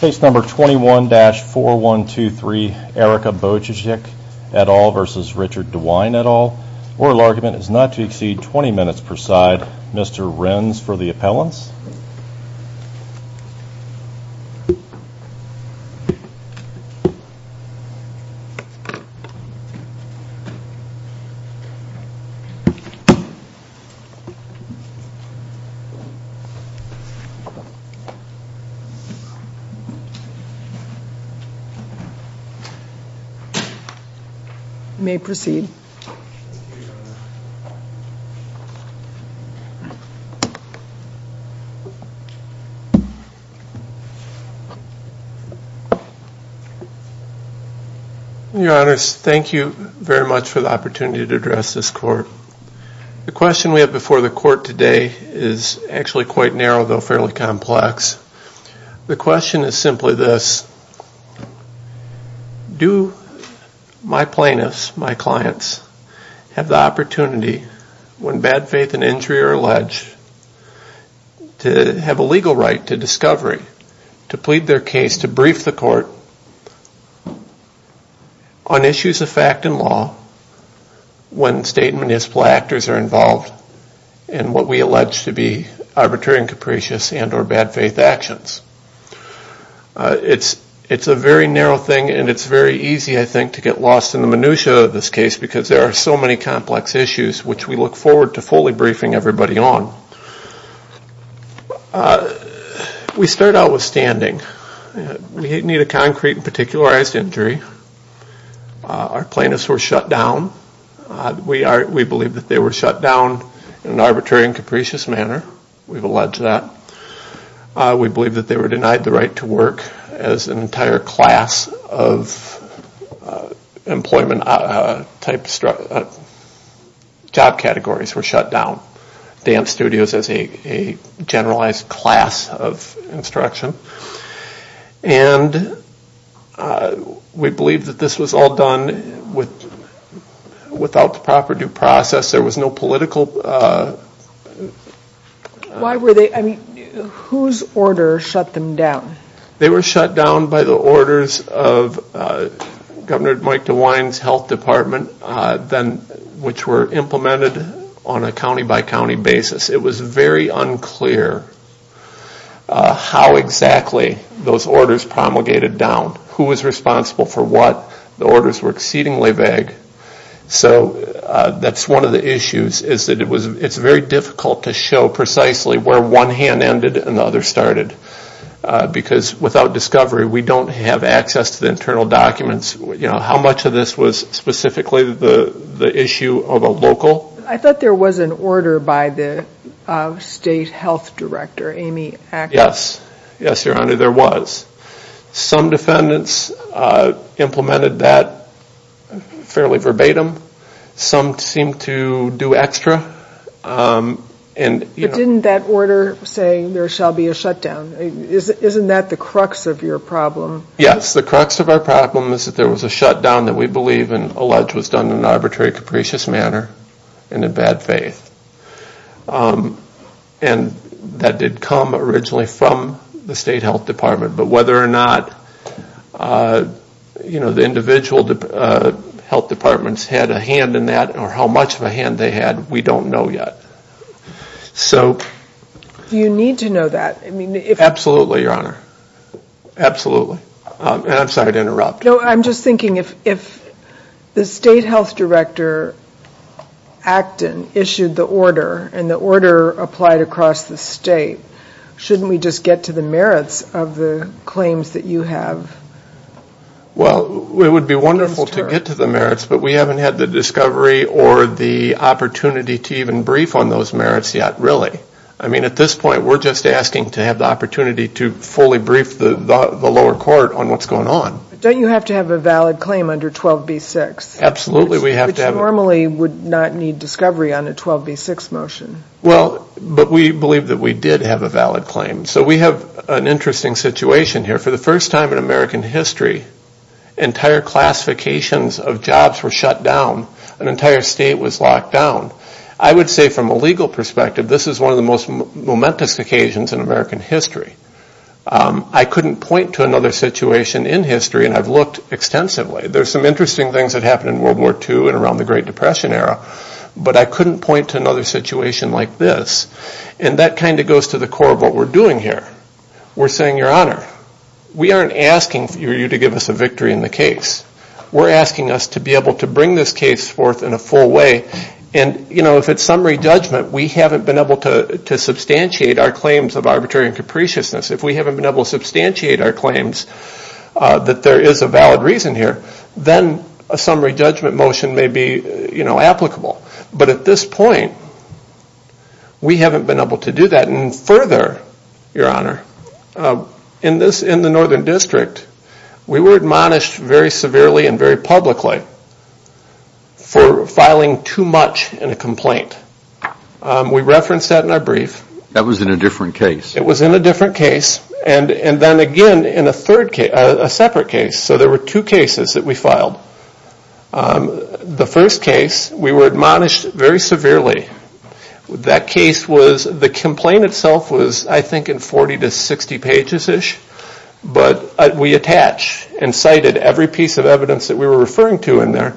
Case number 21-4123, Erica Bojicic et al. versus Richard DeWine et al. Oral argument is not to exceed 20 minutes per side. Mr. Renz for the appellants. You may proceed. Your honors, thank you very much for the opportunity to address this court. The question we have before the court today is actually quite narrow, though fairly complex. The question is simply this. Do my plaintiffs, my clients, have the opportunity when bad faith and injury are alleged to have a legal right to discovery, to plead their case, to brief the court on issues of fact and law when state and municipal actors are involved in what we allege to be arbitrary and capricious and or bad faith actions? It's a very narrow thing and it's very easy, I think, to get lost in the minutia of this case because there are so many complex issues which we look forward to fully briefing everybody on. We start out with standing. We didn't need a concrete and particularized injury. Our plaintiffs were shut down. We believe that they were shut down in an arbitrary and capricious manner. We've alleged that. We believe that they were denied the right to work as an entire class of employment type job categories were shut down. Dance studios as a generalized class of instruction. And we believe that this was all done without the proper due process. There was no political... Why were they, I mean, whose order shut them down? They were shut down by the orders of Governor Mike DeWine's health department which were implemented on a county-by-county basis. It was very unclear how exactly those orders promulgated down, who was responsible for what. The orders were exceedingly vague. So that's one of the issues is that it's very difficult to show precisely where one hand ended and the other started because without discovery, we don't have access to the internal documents. How much of this was specifically the issue of a local? I thought there was an order by the state health director, Amy Acker. Yes. Yes, Your Honor, there was. Some defendants implemented that fairly verbatim. Some seemed to do extra. But didn't that order say there shall be a shutdown? Isn't that the crux of your problem? Yes, the crux of our problem is that there was a shutdown that we believe and allege was done in an arbitrary, capricious manner and in bad faith. And that did come originally from the state health department. But whether or not, you know, the individual health departments had a hand in that or how much of a hand they had, we don't know yet. So... Do you need to know that? Absolutely, Your Honor. Absolutely. And I'm sorry to interrupt. No, I'm just thinking if the state health director, Acton, issued the order and the order applied across the state, shouldn't we just get to the merits of the claims that you have? Well, it would be wonderful to get to the merits, but we haven't had the discovery or the opportunity to even brief on those merits yet, really. I mean, at this point, we're just asking to have the opportunity to fully brief the lower court on what's going on. Don't you have to have a valid claim under 12B6? Absolutely. Which normally would not need discovery on a 12B6 motion. Well, but we believe that we did have a valid claim. So we have an interesting situation here. For the first time in American history, entire classifications of jobs were shut down. An entire state was locked down. I would say from a legal perspective, this is one of the most momentous occasions in American history. I couldn't point to another situation in history, and I've looked extensively. There's some interesting things that happened in World War II and around the Great Depression era, but I couldn't point to another situation like this. And that kind of goes to the core of what we're doing here. We're saying, Your Honor, we aren't asking for you to give us a victory in the case. We're asking us to be able to bring this case forth in a full way and, you know, if it's summary judgment, we haven't been able to substantiate our claims of arbitrary and capriciousness. If we haven't been able to substantiate our claims that there is a valid reason here, then a summary judgment motion may be, you know, applicable. But at this point, we haven't been able to do that. And further, Your Honor, in the Northern District, we were admonished very severely and very publicly for filing too much in a complaint. We referenced that in our brief. That was in a different case. It was in a different case, and then again in a separate case. So there were two cases that we filed. The first case, we were admonished very severely. That case was, the complaint itself was, I think, in 40 to 60 pages-ish, but we attach and cited every piece of evidence that we were referring to in there,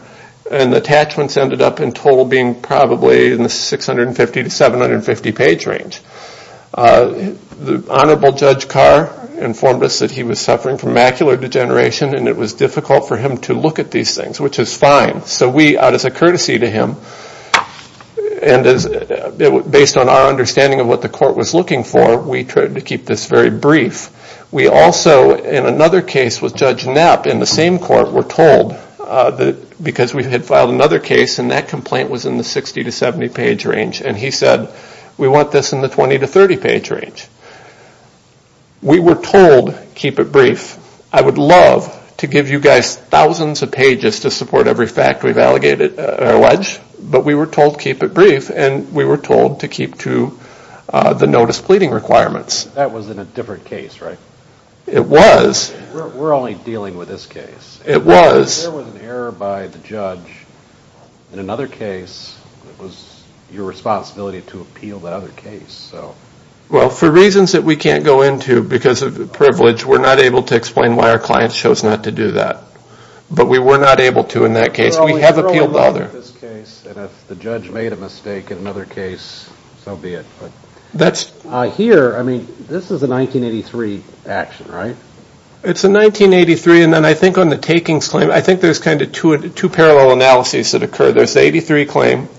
and the attachments ended up in total being probably in the 650 to 750-page range. The Honorable Judge Carr informed us that he was suffering from macular degeneration and it was difficult for him to look at these things, which is fine. So we, as a courtesy to him, and based on our understanding of what the court was looking for, we tried to keep this very brief. We also, in another case with Judge Knapp in the same court, were told, because we had filed another case and that complaint was in the 60 to 70-page range, and he said, we want this in the 20 to 30-page range. We were told, keep it brief. I would love to give you guys thousands of pages to support every fact we've alleged, but we were told, keep it brief, and we were told to keep to the notice pleading requirements. That was in a different case, right? It was. We're only dealing with this case. It was. There was an error by the judge in another case. It was your responsibility to appeal that other case. Well, for reasons that we can't go into because of privilege, we're not able to explain why our client chose not to do that, but we were not able to in that case. We have appealed the other. We're only dealing with this case, and if the judge made a mistake in another case, so be it. Here, I mean, this is a 1983 action, right? It's a 1983, and then I think on the takings claim, I think there's kind of two parallel analyses that occur. There's the 83 claim,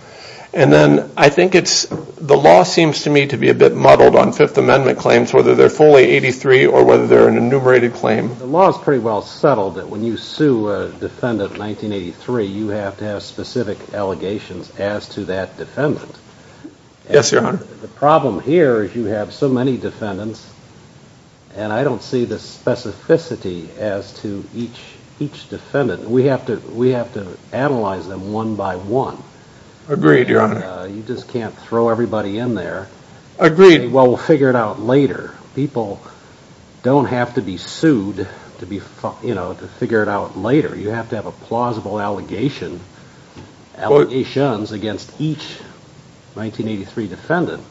and then I think it's the law seems to me to be a bit muddled on Fifth Amendment claims, whether they're fully 83 or whether they're an enumerated claim. The law is pretty well settled that when you sue a defendant in 1983, you have to have specific allegations as to that defendant. Yes, Your Honor. The problem here is you have so many defendants, and I don't see the specificity as to each defendant. We have to analyze them one by one. Agreed, Your Honor. You just can't throw everybody in there. Agreed. Well, we'll figure it out later. People don't have to be sued to figure it out later. You have to have a plausible allegations against each 1983 defendant,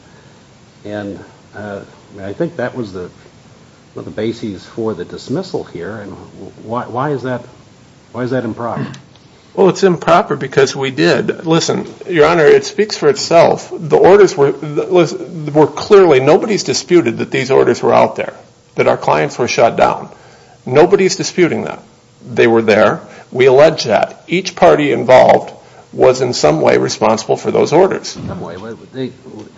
and I think that was the basis for the dismissal here, and why is that improper? Well, it's improper because we did. Listen, Your Honor, it speaks for itself. Clearly, nobody's disputed that these orders were out there, that our clients were shut down. Nobody's disputing them. They were there. We allege that. Each party involved was in some way responsible for those orders. In some way. They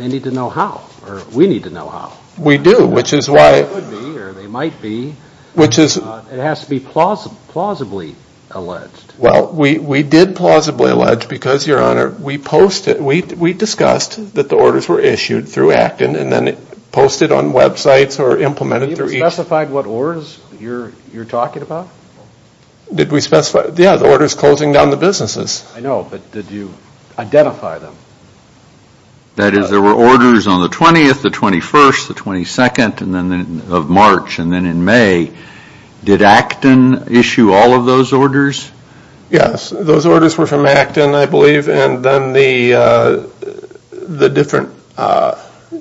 need to know how, or we need to know how. We do, which is why. They would be, or they might be. It has to be plausibly alleged. Well, we did plausibly allege because, Your Honor, we discussed that the orders were issued through Acton and then posted on websites or implemented through each. Did you specify what orders you're talking about? Did we specify? Yeah, the orders closing down the businesses. I know, but did you identify them? That is, there were orders on the 20th, the 21st, the 22nd of March, and then in May. Did Acton issue all of those orders? Yes. Those orders were from Acton, I believe, and then the different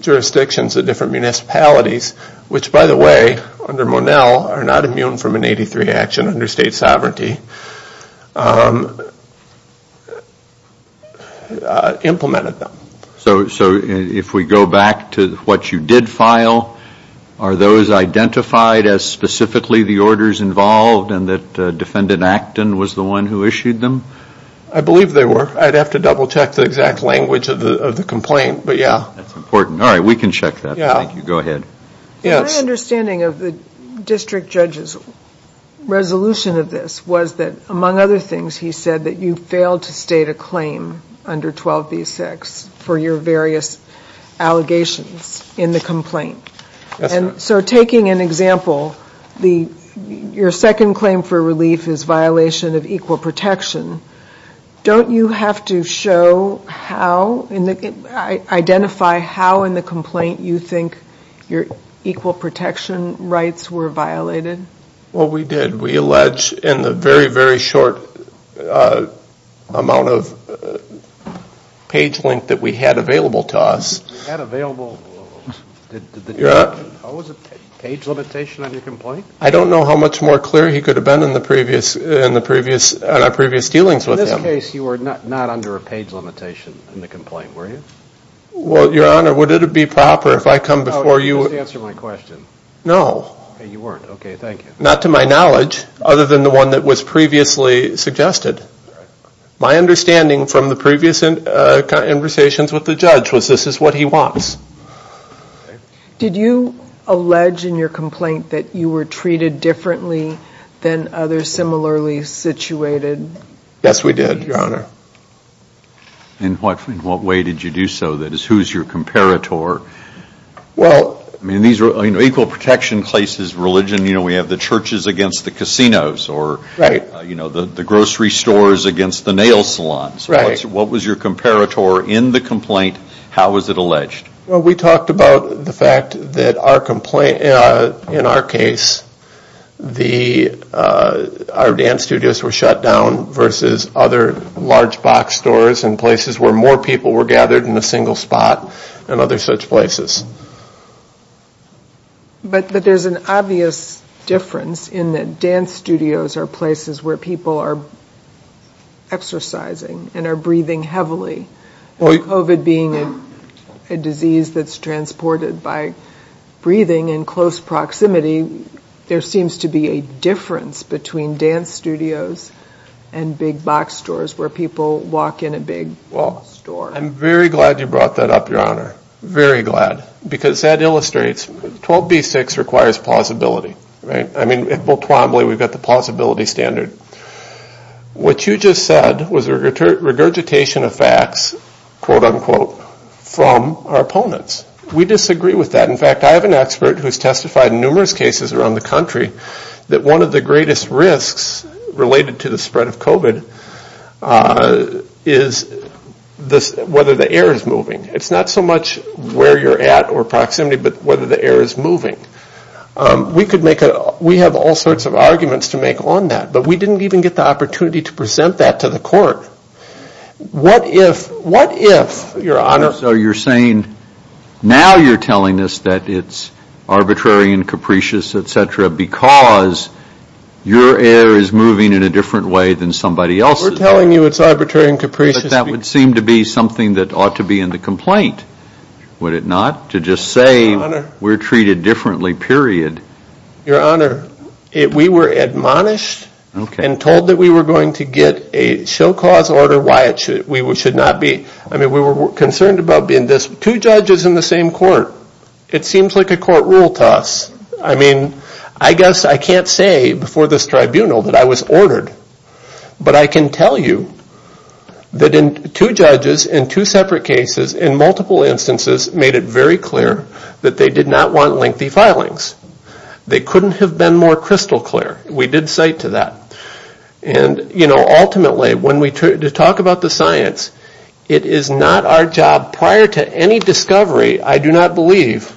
jurisdictions, the different municipalities, which, by the way, under Monell, are not immune from an 83 action under state sovereignty, implemented them. If we go back to what you did file, are those identified as specifically the orders involved and that Defendant Acton was the one who issued them? I believe they were. I'd have to double check the exact language of the complaint, but yeah. That's important. All right, we can check that. Thank you. Go ahead. My understanding of the district judge's resolution of this was that, among other things, he said that you failed to state a claim under 12B6 for your various allegations in the complaint. Yes, ma'am. So taking an example, your second claim for relief is violation of equal protection. Don't you have to identify how in the complaint you think your equal protection rights were violated? Well, we did. We allege in the very, very short amount of page length that we had available to us. You had available? Did the judge impose a page limitation on your complaint? I don't know how much more clear he could have been in our previous dealings with him. In this case, you were not under a page limitation in the complaint, were you? Well, Your Honor, would it be proper if I come before you? Just answer my question. No. Okay, you weren't. Okay, thank you. Not to my knowledge, other than the one that was previously suggested. My understanding from the previous conversations with the judge was this is what he wants. Did you allege in your complaint that you were treated differently than others similarly situated? Yes, we did, Your Honor. In what way did you do so? That is, who is your comparator? Equal protection places, religion, we have the churches against the casinos, or the grocery stores against the nail salons. What was your comparator in the complaint? How was it alleged? We talked about the fact that in our case, our dance studios were shut down versus other large box stores and places where more people were gathered in a single spot and other such places. But there's an obvious difference in that dance studios are places where people are exercising and are breathing heavily. With COVID being a disease that's transported by breathing in close proximity, there seems to be a difference between dance studios and big box stores where people walk in a big store. I'm very glad you brought that up, Your Honor. Very glad. Because that illustrates 12B6 requires plausibility. Right? I mean, we've got the plausibility standard. What you just said was regurgitation of facts, quote unquote, from our opponents. We disagree with that. In fact, I have an expert who's testified in numerous cases around the country that one of the greatest risks related to the spread of COVID is whether the air is moving. It's not so much where you're at or proximity, but whether the air is moving. We have all sorts of arguments to make on that. But we didn't even get the opportunity to present that to the court. What if, Your Honor? So you're saying now you're telling us that it's arbitrary and capricious, et cetera, because your air is moving in a different way than somebody else's. We're telling you it's arbitrary and capricious. But that would seem to be something that ought to be in the complaint, would it not? To just say we're treated differently, period. Your Honor, we were admonished and told that we were going to get a show cause order, no matter why we should not be. I mean, we were concerned about being two judges in the same court. It seems like a court rule to us. I mean, I guess I can't say before this tribunal that I was ordered. But I can tell you that two judges in two separate cases in multiple instances made it very clear that they did not want lengthy filings. They couldn't have been more crystal clear. We did cite to that. And, you know, ultimately when we talk about the science, it is not our job prior to any discovery, I do not believe,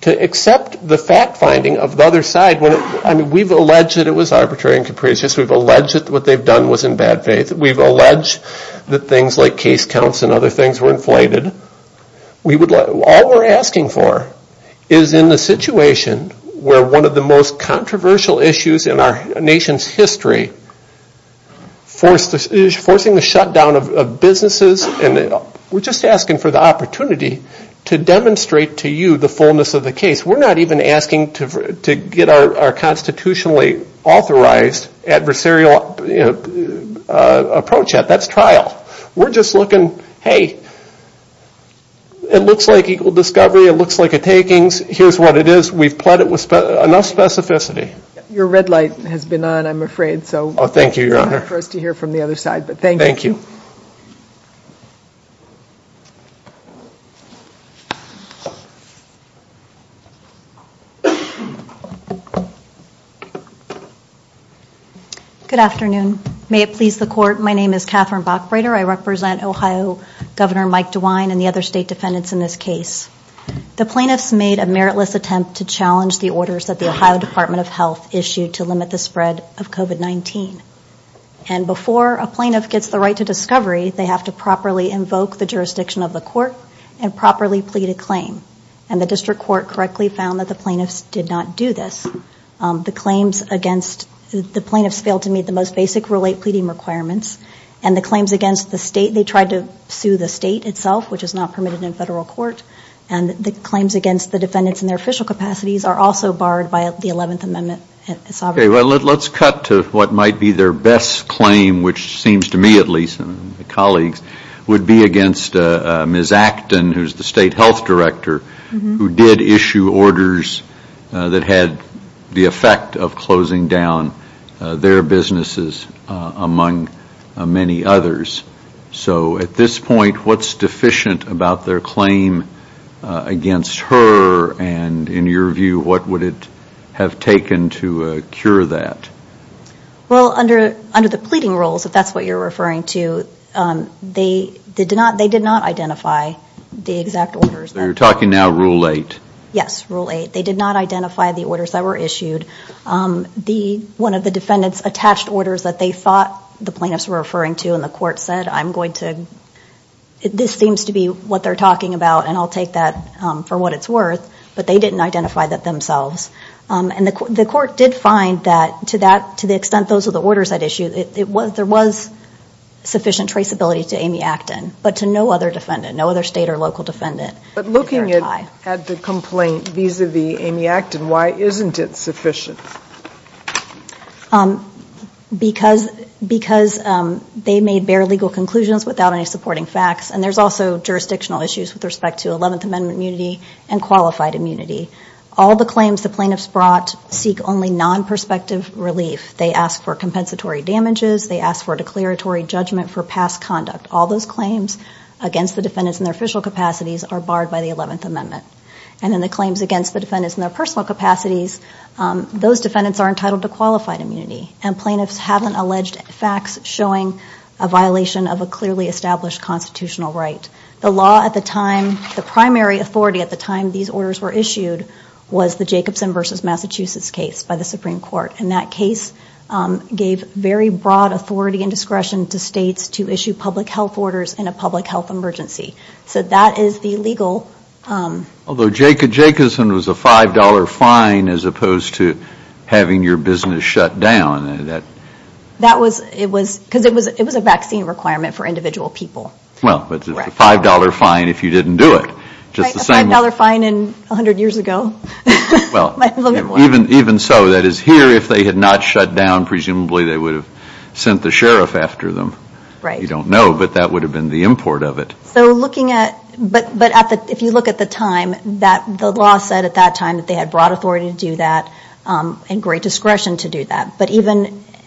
to accept the fact finding of the other side. I mean, we've alleged that it was arbitrary and capricious. We've alleged that what they've done was in bad faith. We've alleged that things like case counts and other things were inflated. All we're asking for is in the situation where one of the most controversial issues in our nation's history is forcing the shutdown of businesses. We're just asking for the opportunity to demonstrate to you the fullness of the case. We're not even asking to get our constitutionally authorized adversarial approach at. That's trial. We're just looking, hey, it looks like equal discovery. It looks like a takings. Here's what it is. We've pled it with enough specificity. Your red light has been on, I'm afraid. Oh, thank you, Your Honor. It's hard for us to hear from the other side, but thank you. Thank you. Good afternoon. May it please the court, my name is Catherine Bachbreder. I represent Ohio Governor Mike DeWine and the other state defendants in this case. The plaintiffs made a meritless attempt to challenge the orders that the Ohio Department of Health issued to limit the spread of COVID-19. And before a plaintiff gets the right to discovery, they have to properly invoke the jurisdiction of the court and properly plead a claim. And the district court correctly found that the plaintiffs did not do this. The claims against the plaintiffs failed to meet the most basic Rule 8 pleading requirements. And the claims against the state, they tried to sue the state itself, which is not permitted in federal court. And the claims against the defendants in their official capacities are also barred by the 11th Amendment. Okay, well, let's cut to what might be their best claim, which seems to me, at least, and the colleagues would be against Ms. Acton, who's the state health director, who did issue orders that had the effect of closing down their businesses, among many others. So at this point, what's deficient about their claim against her? And in your view, what would it have taken to cure that? Well, under the pleading rules, if that's what you're referring to, they did not identify the exact orders. So you're talking now Rule 8? Yes, Rule 8. They did not identify the orders that were issued. One of the defendants attached orders that they thought the plaintiffs were referring to, and the court said, I'm going to, this seems to be what they're talking about, and I'll take that for what it's worth. But they didn't identify that themselves. And the court did find that, to the extent those were the orders that issued, there was sufficient traceability to Amy Acton, but to no other defendant, no other state or local defendant. But looking at the complaint vis-a-vis Amy Acton, why isn't it sufficient? Because they made bare legal conclusions without any supporting facts, and there's also jurisdictional issues with respect to 11th Amendment immunity and qualified immunity. All the claims the plaintiffs brought seek only non-prospective relief. They ask for compensatory damages. They ask for a declaratory judgment for past conduct. All those claims against the defendants in their official capacities are barred by the 11th Amendment. And then the claims against the defendants in their personal capacities, those defendants are entitled to qualified immunity, and plaintiffs haven't alleged facts showing a violation of a clearly established constitutional right. The law at the time, the primary authority at the time these orders were issued, was the Jacobson v. Massachusetts case by the Supreme Court. And that case gave very broad authority and discretion to states to issue public health orders in a public health emergency. So that is the legal... Although Jacobson was a $5 fine as opposed to having your business shut down. That was because it was a vaccine requirement for individual people. Well, but it's a $5 fine if you didn't do it. A $5 fine 100 years ago. Well, even so, that is here if they had not shut down, presumably they would have sent the sheriff after them. Right. You don't know, but that would have been the import of it. So looking at... But if you look at the time, the law said at that time that they had broad authority to do that and great discretion to do that.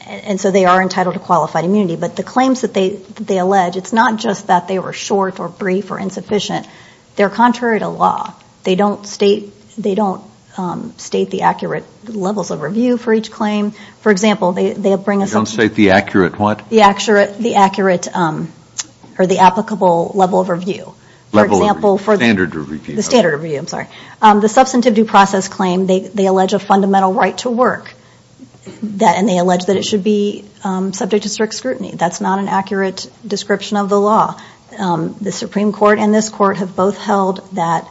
And so they are entitled to qualified immunity. But the claims that they allege, it's not just that they were short or brief or insufficient. They're contrary to law. They don't state the accurate levels of review for each claim. For example, they bring a... You don't state the accurate what? The accurate or the applicable level of review. Level of review. Standard of review. The standard of review. I'm sorry. The substantive due process claim, they allege a fundamental right to work. And they allege that it should be subject to strict scrutiny. That's not an accurate description of the law. The Supreme Court and this court have both held that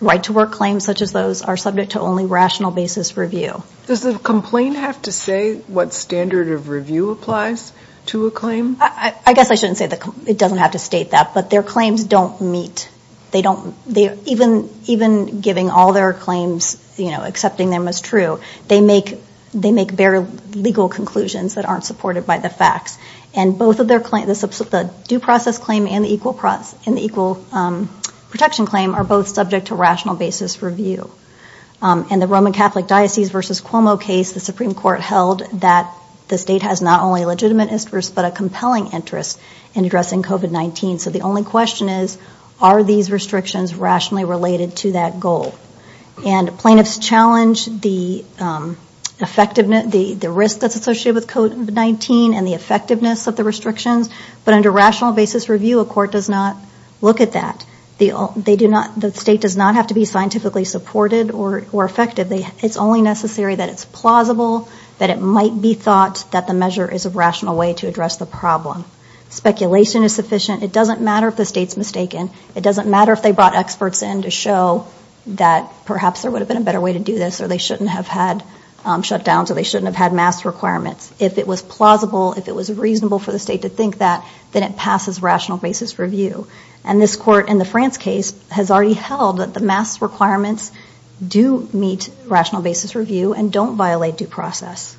right to work claims such as those are subject to only rational basis review. Does the complaint have to say what standard of review applies to a claim? I guess I shouldn't say that. It doesn't have to state that. But their claims don't meet. They don't... Even giving all their claims, you know, accepting them as true, they make bare legal conclusions that aren't supported by the facts. And both of their claims, the due process claim and the equal protection claim, are both subject to rational basis review. And the Roman Catholic Diocese versus Cuomo case, the Supreme Court held that the state has not only a legitimate interest, but a compelling interest in addressing COVID-19. So the only question is, are these restrictions rationally related to that goal? And plaintiffs challenge the effectiveness, the risk that's associated with COVID-19 and the effectiveness of the restrictions. But under rational basis review, a court does not look at that. The state does not have to be scientifically supported or effective. It's only necessary that it's plausible, that it might be thought that the measure is a rational way to address the problem. Speculation is sufficient. It doesn't matter if the state's mistaken. It doesn't matter if they brought experts in to show that perhaps there would have been a better way to do this or they shouldn't have had shutdowns or they shouldn't have had mask requirements. If it was plausible, if it was reasonable for the state to think that, then it passes rational basis review. And this court in the France case has already held that the mask requirements do meet rational basis review and don't violate due process.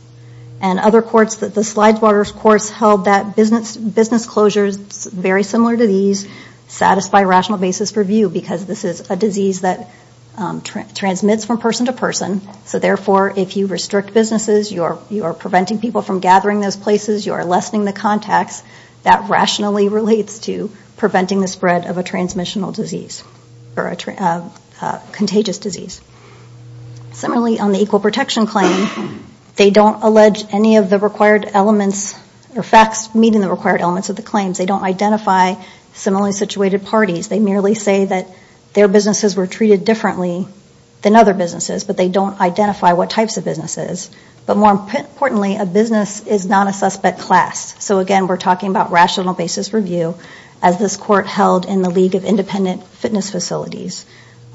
And other courts, the Slidewater courts held that business closures, very similar to these, satisfy rational basis review because this is a disease that transmits from person to person. So therefore, if you restrict businesses, you are preventing people from gathering those places, you are lessening the contacts. That rationally relates to preventing the spread of a transmissional disease or a contagious disease. Similarly, on the equal protection claim, they don't allege any of the required elements or facts meeting the required elements of the claims. They don't identify similarly situated parties. They merely say that their businesses were treated differently than other businesses, but they don't identify what types of businesses. But more importantly, a business is not a suspect class. So again, we're talking about rational basis review as this court held in the League of Independent Fitness Facilities.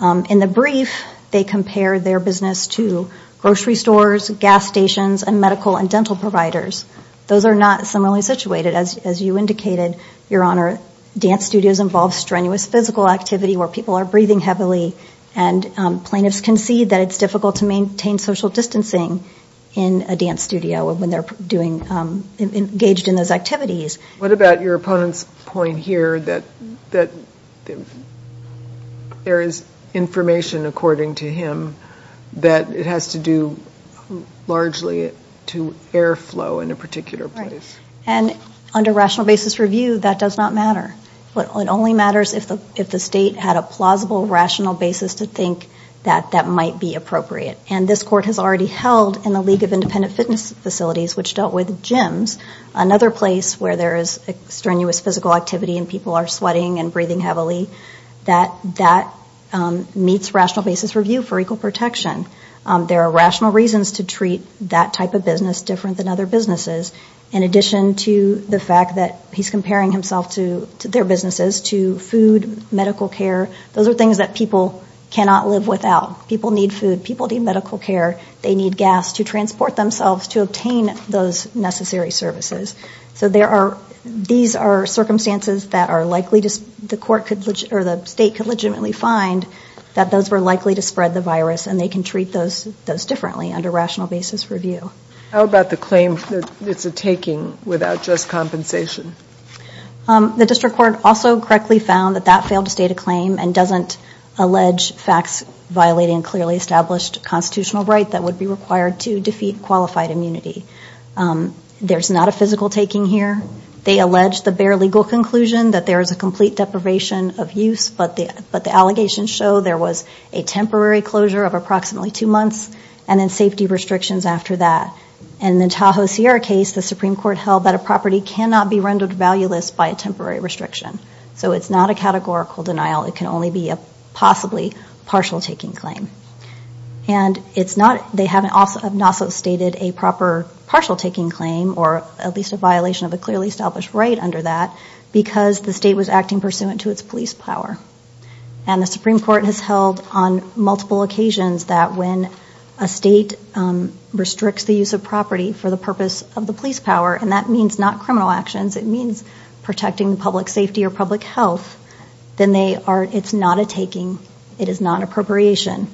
In the brief, they compare their business to grocery stores, gas stations, and medical and dental providers. Those are not similarly situated, as you indicated, Your Honor. Dance studios involve strenuous physical activity where people are breathing heavily and plaintiffs concede that it's difficult to maintain social distancing in a dance studio when they're engaged in those activities. What about your opponent's point here that there is information, according to him, that it has to do largely to airflow in a particular place? And under rational basis review, that does not matter. It only matters if the state had a plausible, rational basis to think that that might be appropriate. And this court has already held in the League of Independent Fitness Facilities, which dealt with gyms, another place where there is strenuous physical activity and people are sweating and breathing heavily, that that meets rational basis review for equal protection. There are rational reasons to treat that type of business different than other businesses. In addition to the fact that he's comparing himself to their businesses, to food, medical care, those are things that people cannot live without. People need food. People need medical care. They need gas to transport themselves to obtain those necessary services. So these are circumstances that the state could legitimately find that those were likely to spread the virus and they can treat those differently under rational basis review. How about the claim that it's a taking without just compensation? The district court also correctly found that that failed to state a claim and doesn't allege facts violating a clearly established constitutional right that would be required to defeat qualified immunity. There's not a physical taking here. They allege the bare legal conclusion that there is a complete deprivation of use, but the allegations show there was a temporary closure of approximately two months and then safety restrictions after that. In the Tahoe Sierra case, the Supreme Court held that a property cannot be rendered valueless by a temporary restriction. So it's not a categorical denial. It can only be a possibly partial taking claim. And they have not also stated a proper partial taking claim or at least a violation of a clearly established right under that because the state was acting pursuant to its police power. And the Supreme Court has held on multiple occasions that when a state restricts the use of property for the purpose of the police power, and that means not criminal actions, it means protecting public safety or public health, then it's not a taking, it is not appropriation.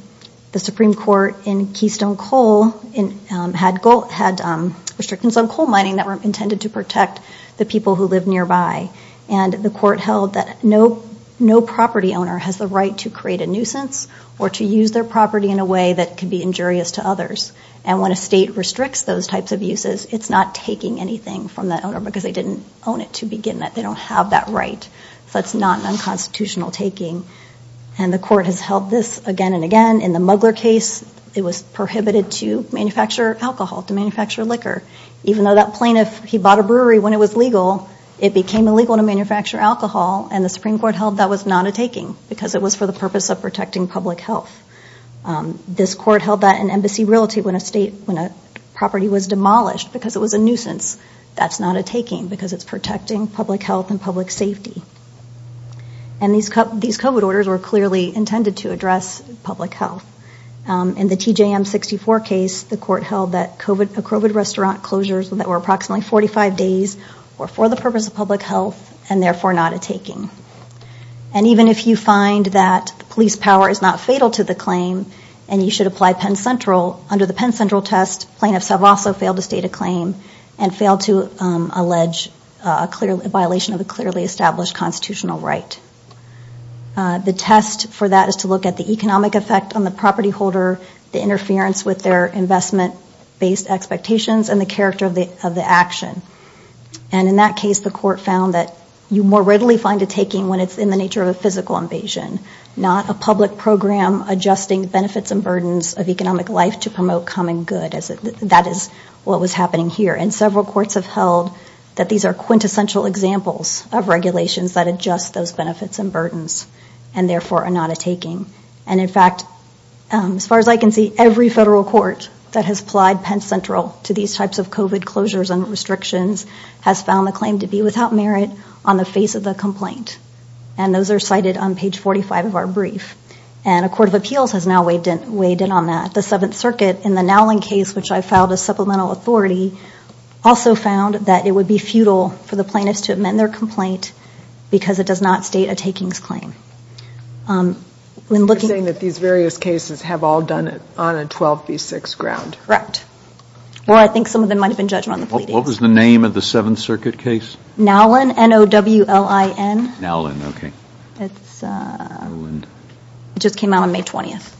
The Supreme Court in Keystone Coal had restrictions on coal mining that were intended to protect the people who live nearby. And the court held that no property owner has the right to create a nuisance or to use their property in a way that could be injurious to others. And when a state restricts those types of uses, it's not taking anything from that owner because they didn't own it to begin with. They don't have that right. So it's not an unconstitutional taking. And the court has held this again and again. In the Mugler case, it was prohibited to manufacture alcohol, to manufacture liquor. Even though that plaintiff, he bought a brewery when it was legal, it became illegal to manufacture alcohol. And the Supreme Court held that was not a taking because it was for the purpose of protecting public health. This court held that an embassy realty when a property was demolished because it was a nuisance, that's not a taking because it's protecting public health and public safety. And these COVID orders were clearly intended to address public health. In the TJM64 case, the court held that COVID restaurant closures that were approximately 45 days were for the purpose of public health and therefore not a taking. And even if you find that police power is not fatal to the claim and you should apply Penn Central, under the Penn Central test, plaintiffs have also failed to state a claim and failed to allege a violation of a clearly established constitutional right. The test for that is to look at the economic effect on the property holder, the interference with their investment-based expectations, and the character of the action. And in that case, the court found that you more readily find a taking when it's in the nature of a physical invasion, not a public program adjusting benefits and burdens of economic life to promote common good. That is what was happening here. And several courts have held that these are quintessential examples of regulations that adjust those benefits and burdens and therefore are not a taking. And in fact, as far as I can see, every federal court that has applied Penn Central to these types of COVID closures and restrictions has found the claim to be without merit on the face of the complaint. And those are cited on page 45 of our brief. And a court of appeals has now weighed in on that. The Seventh Circuit, in the Nowlin case, which I filed as supplemental authority, also found that it would be futile for the plaintiffs to amend their complaint because it does not state a takings claim. You're saying that these various cases have all done it on a 12B6 ground. Correct. Or I think some of them might have been judged on the pleadings. What was the name of the Seventh Circuit case? Nowlin, N-O-W-L-I-N. Nowlin, okay. It just came out on May 20th.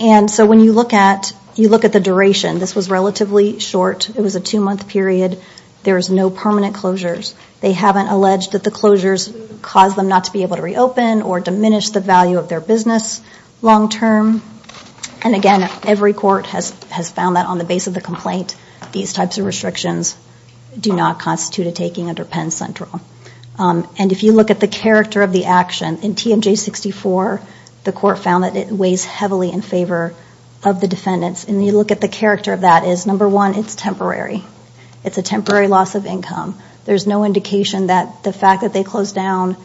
And so when you look at the duration, this was relatively short. It was a two-month period. There was no permanent closures. They haven't alleged that the closures caused them not to be able to reopen or diminish the value of their business long-term. And again, every court has found that on the base of the complaint these types of restrictions do not constitute a taking under Penn Central. And if you look at the character of the action, in TMJ-64 the court found that it weighs heavily in favor of the defendants. And you look at the character of that is, number one, it's temporary. It's a temporary loss of income. There's no indication that the fact that they closed down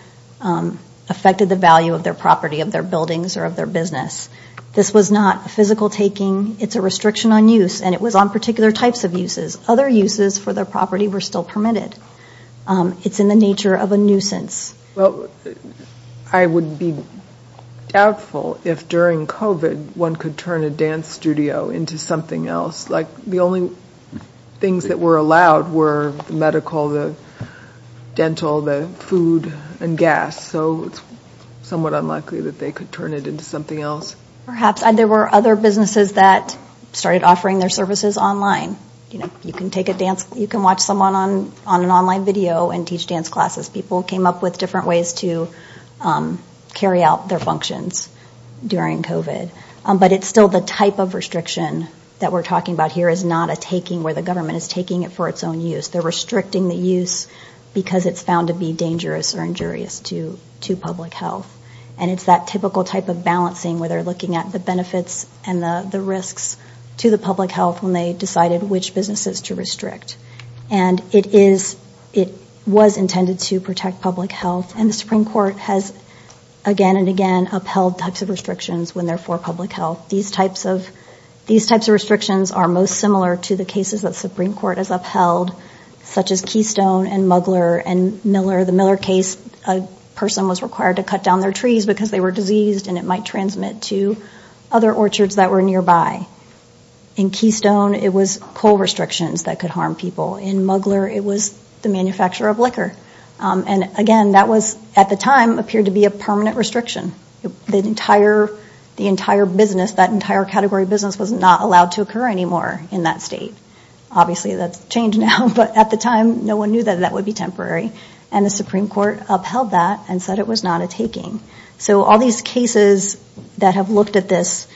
affected the value of their property, of their buildings, or of their business. This was not a physical taking. It's a restriction on use, and it was on particular types of uses. Other uses for their property were still permitted. It's in the nature of a nuisance. Well, I would be doubtful if during COVID one could turn a dance studio into something else. The only things that were allowed were the medical, the dental, the food and gas. So it's somewhat unlikely that they could turn it into something else. Perhaps. There were other businesses that started offering their services online. You can watch someone on an online video and teach dance classes. People came up with different ways to carry out their functions during COVID. But it's still the type of restriction that we're talking about here is not a taking where the government is taking it for its own use. They're restricting the use because it's found to be dangerous or injurious to public health. And it's that typical type of balancing where they're looking at the benefits and the risks to the public health when they decided which businesses to restrict. And it was intended to protect public health. And the Supreme Court has again and again upheld types of restrictions when they're for public health. These types of restrictions are most similar to the cases that the Supreme Court has upheld, such as Keystone and Mugler and Miller. The Miller case, a person was required to cut down their trees because they were diseased and it might transmit to other orchards that were nearby. In Keystone, it was coal restrictions that could harm people. In Mugler, it was the manufacture of liquor. And again, that was at the time appeared to be a permanent restriction. The entire business, that entire category of business was not allowed to occur anymore in that state. Obviously, that's changed now. But at the time, no one knew that that would be temporary. And the Supreme Court upheld that and said it was not a taking. So all these cases that have looked at this,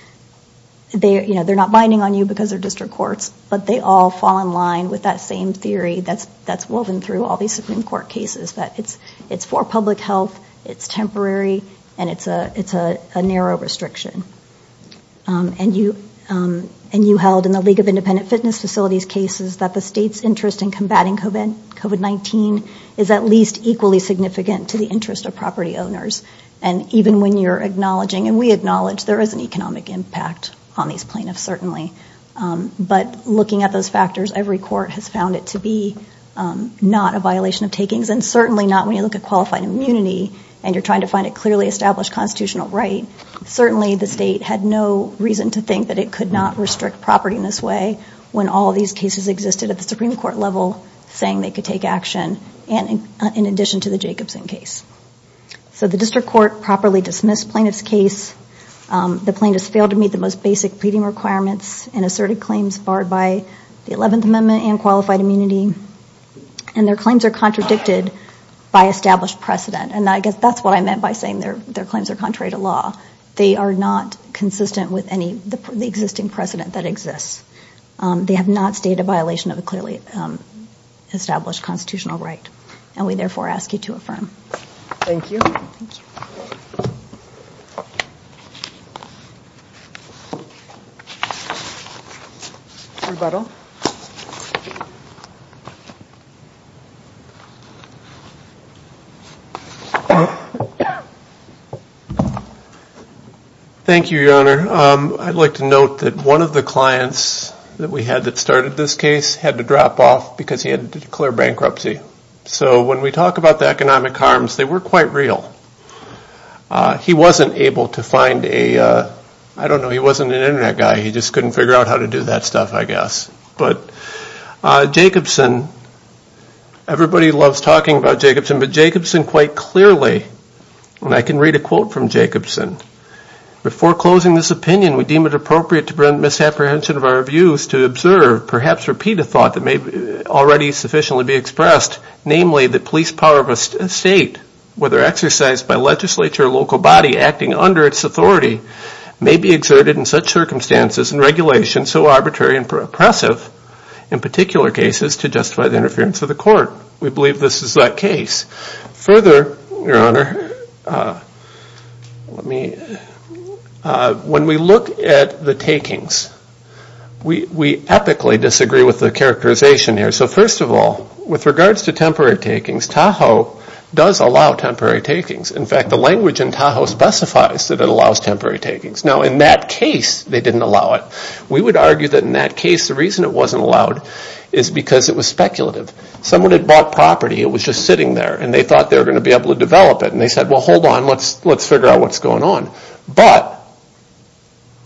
they're not binding on you because they're district courts, but they all fall in line with that same theory that's woven through all these Supreme Court cases, that it's for public health, it's temporary, and it's a narrow restriction. And you held in the League of Independent Fitness Facilities cases that the state's interest in combating COVID-19 is at least equally significant to the interest of property owners. And even when you're acknowledging, and we acknowledge there is an economic impact on these plaintiffs, certainly, but looking at those factors, every court has found it to be not a violation of takings and certainly not when you look at qualified immunity and you're trying to find a clearly established constitutional right. Certainly, the state had no reason to think that it could not restrict property in this way when all these cases existed at the Supreme Court level saying they could take action, in addition to the Jacobson case. So the district court properly dismissed plaintiff's case. The plaintiffs failed to meet the most basic pleading requirements and asserted claims barred by the 11th Amendment and qualified immunity. And their claims are contradicted by established precedent. And I guess that's what I meant by saying their claims are contrary to law. They are not consistent with any of the existing precedent that exists. They have not stated a violation of a clearly established constitutional right. And we therefore ask you to affirm. Thank you. Rebuttal. Thank you, Your Honor. I'd like to note that one of the clients that we had that started this case had to drop off because he had to declare bankruptcy. So when we talk about the economic harms, they were quite real. He wasn't able to find a, I don't know, he wasn't an Internet guy. He just couldn't figure out how to do that stuff, I guess. But Jacobson, everybody loves talking about Jacobson, but Jacobson quite clearly, and I can read a quote from Jacobson. Before closing this opinion, we deem it appropriate to bring misapprehension of our views to observe, perhaps repeat a thought that may already sufficiently be expressed, namely the police power of a state, whether exercised by legislature or local body acting under its authority, may be exerted in such circumstances and regulations so arbitrary and oppressive, in particular cases, to justify the interference of the court. We believe this is that case. Further, Your Honor, when we look at the takings, we epically disagree with the characterization here. So first of all, with regards to temporary takings, Tahoe does allow temporary takings. In fact, the language in Tahoe specifies that it allows temporary takings. Now, in that case, they didn't allow it. We would argue that in that case, the reason it wasn't allowed is because it was speculative. Someone had bought property, it was just sitting there, and they thought they were going to be able to develop it, and they said, well, hold on, let's figure out what's going on. But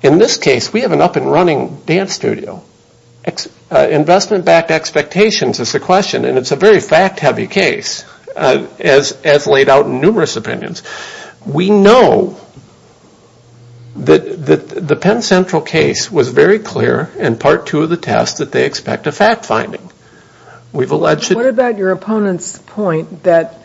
in this case, we have an up-and-running dance studio. Investment-backed expectations is the question, and it's a very fact-heavy case, as laid out in numerous opinions. We know that the Penn Central case was very clear in Part 2 of the test that they expect a fact-finding. What about your opponent's point that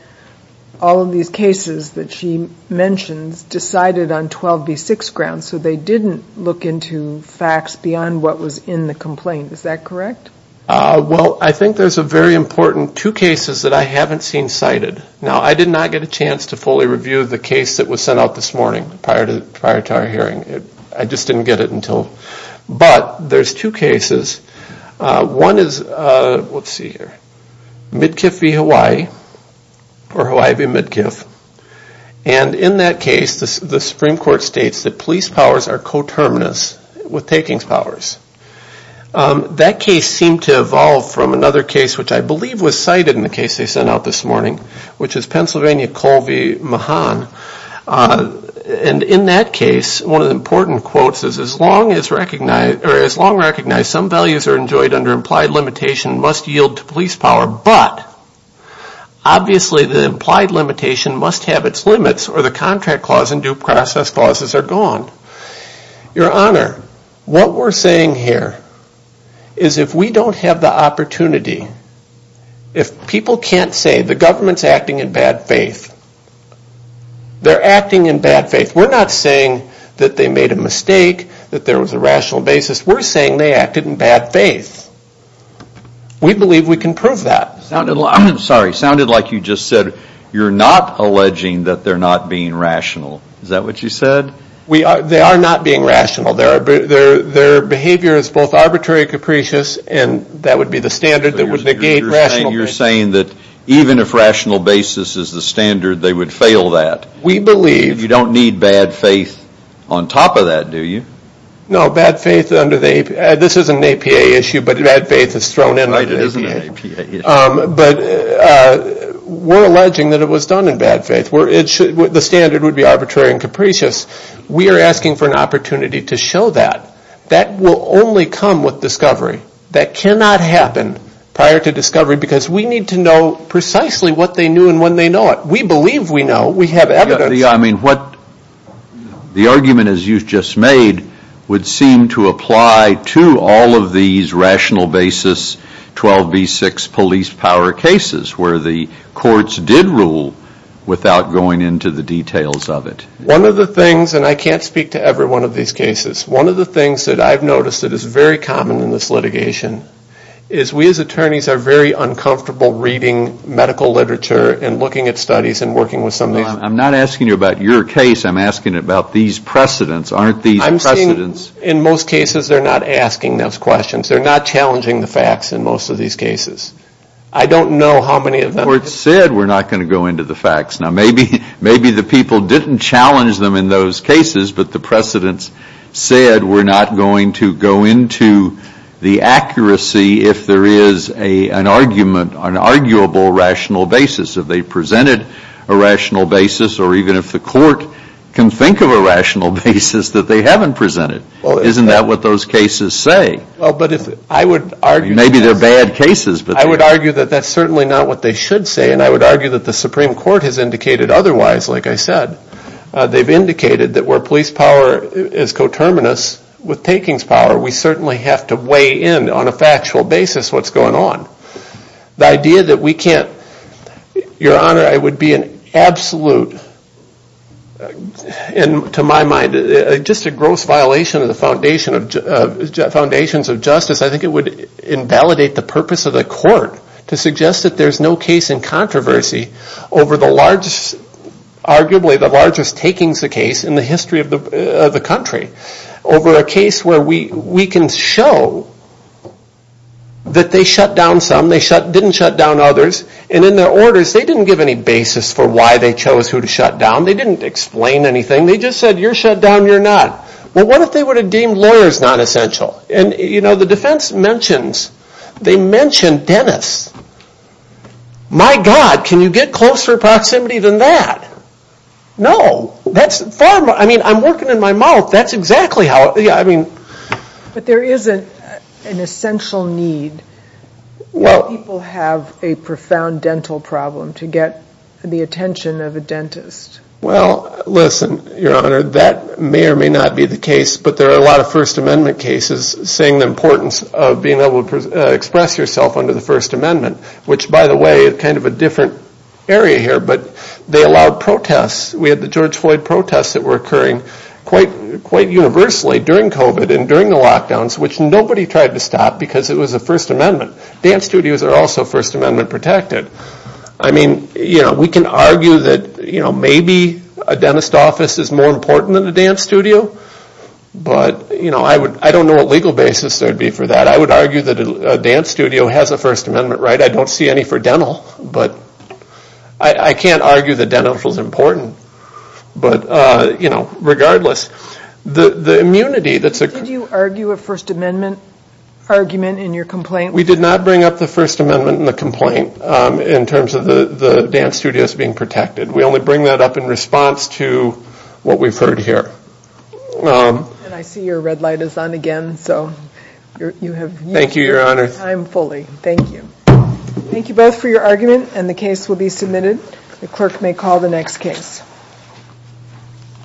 all of these cases that she mentions decided on 12B6 grounds, so they didn't look into facts beyond what was in the complaint. Is that correct? Well, I think there's a very important two cases that I haven't seen cited. Now, I did not get a chance to fully review the case that was sent out this morning prior to our hearing. I just didn't get it until. But there's two cases. One is Midkiff v. Hawaii, or Hawaii v. Midkiff. And in that case, the Supreme Court states that police powers are coterminous with takings powers. That case seemed to evolve from another case, which I believe was cited in the case they sent out this morning, which is Pennsylvania Coal v. Mahan. And in that case, one of the important quotes is, as long recognized some values are enjoyed under implied limitation must yield to police power, but obviously the implied limitation must have its limits or the contract clause and due process clauses are gone. Your Honor, what we're saying here is if we don't have the opportunity, if people can't say the government's acting in bad faith, they're acting in bad faith. We're not saying that they made a mistake, that there was a rational basis. We're saying they acted in bad faith. We believe we can prove that. I'm sorry. It sounded like you just said you're not alleging that they're not being rational. Is that what you said? They are not being rational. Their behavior is both arbitrary and capricious, and that would be the standard that would negate rational. You're saying that even if rational basis is the standard, they would fail that. We believe. You don't need bad faith on top of that, do you? No, bad faith under the APA. This isn't an APA issue, but bad faith is thrown in like an APA. Right, it isn't an APA issue. But we're alleging that it was done in bad faith. The standard would be arbitrary and capricious. We are asking for an opportunity to show that. That will only come with discovery. That cannot happen prior to discovery because we need to know precisely what they knew and when they know it. We believe we know. We have evidence. I mean, the argument as you've just made would seem to apply to all of these rational basis 12B6 police power cases where the courts did rule without going into the details of it. One of the things, and I can't speak to every one of these cases. One of the things that I've noticed that is very common in this litigation is we as attorneys are very uncomfortable reading medical literature and looking at studies and working with some of these. I'm not asking you about your case. I'm asking about these precedents. Aren't these precedents? I'm saying in most cases they're not asking those questions. They're not challenging the facts in most of these cases. I don't know how many of them. The court said we're not going to go into the facts. Now, maybe the people didn't challenge them in those cases, but the precedents said we're not going to go into the accuracy if there is an argument, an arguable rational basis. If they presented a rational basis or even if the court can think of a rational basis that they haven't presented. Isn't that what those cases say? Maybe they're bad cases. I would argue that that's certainly not what they should say. And I would argue that the Supreme Court has indicated otherwise, like I said. They've indicated that where police power is coterminous with takings power, we certainly have to weigh in on a factual basis what's going on. The idea that we can't, Your Honor, it would be an absolute, to my mind, just a gross violation of the foundations of justice. I think it would invalidate the purpose of the court to suggest that there's no case in controversy over the largest, arguably the largest takings of case in the history of the country. Over a case where we can show that they shut down some, they didn't shut down others. And in their orders, they didn't give any basis for why they chose who to shut down. They didn't explain anything. They just said you're shut down, you're not. Well, what if they would have deemed lawyers nonessential? And, you know, the defense mentions, they mention dentists. My God, can you get closer proximity than that? No. That's far, I mean, I'm working in my mouth. That's exactly how, I mean. But there isn't an essential need. Well. People have a profound dental problem to get the attention of a dentist. Well, listen, Your Honor, that may or may not be the case. But there are a lot of First Amendment cases saying the importance of being able to express yourself under the First Amendment, which, by the way, is kind of a different area here. But they allowed protests. We had the George Floyd protests that were occurring quite, quite universally during COVID and during the lockdowns, which nobody tried to stop because it was a First Amendment. Dance studios are also First Amendment protected. I mean, you know, we can argue that, you know, maybe a dentist office is more important than a dance studio. But, you know, I don't know what legal basis there would be for that. I would argue that a dance studio has a First Amendment right. I don't see any for dental. But I can't argue that dental is important. But, you know, regardless, the immunity that's a... Did you argue a First Amendment argument in your complaint? We did not bring up the First Amendment in the complaint. In terms of the dance studios being protected. We only bring that up in response to what we've heard here. And I see your red light is on again. So you have used your time fully. Thank you. Thank you both for your argument. And the case will be submitted. The clerk may call the next case.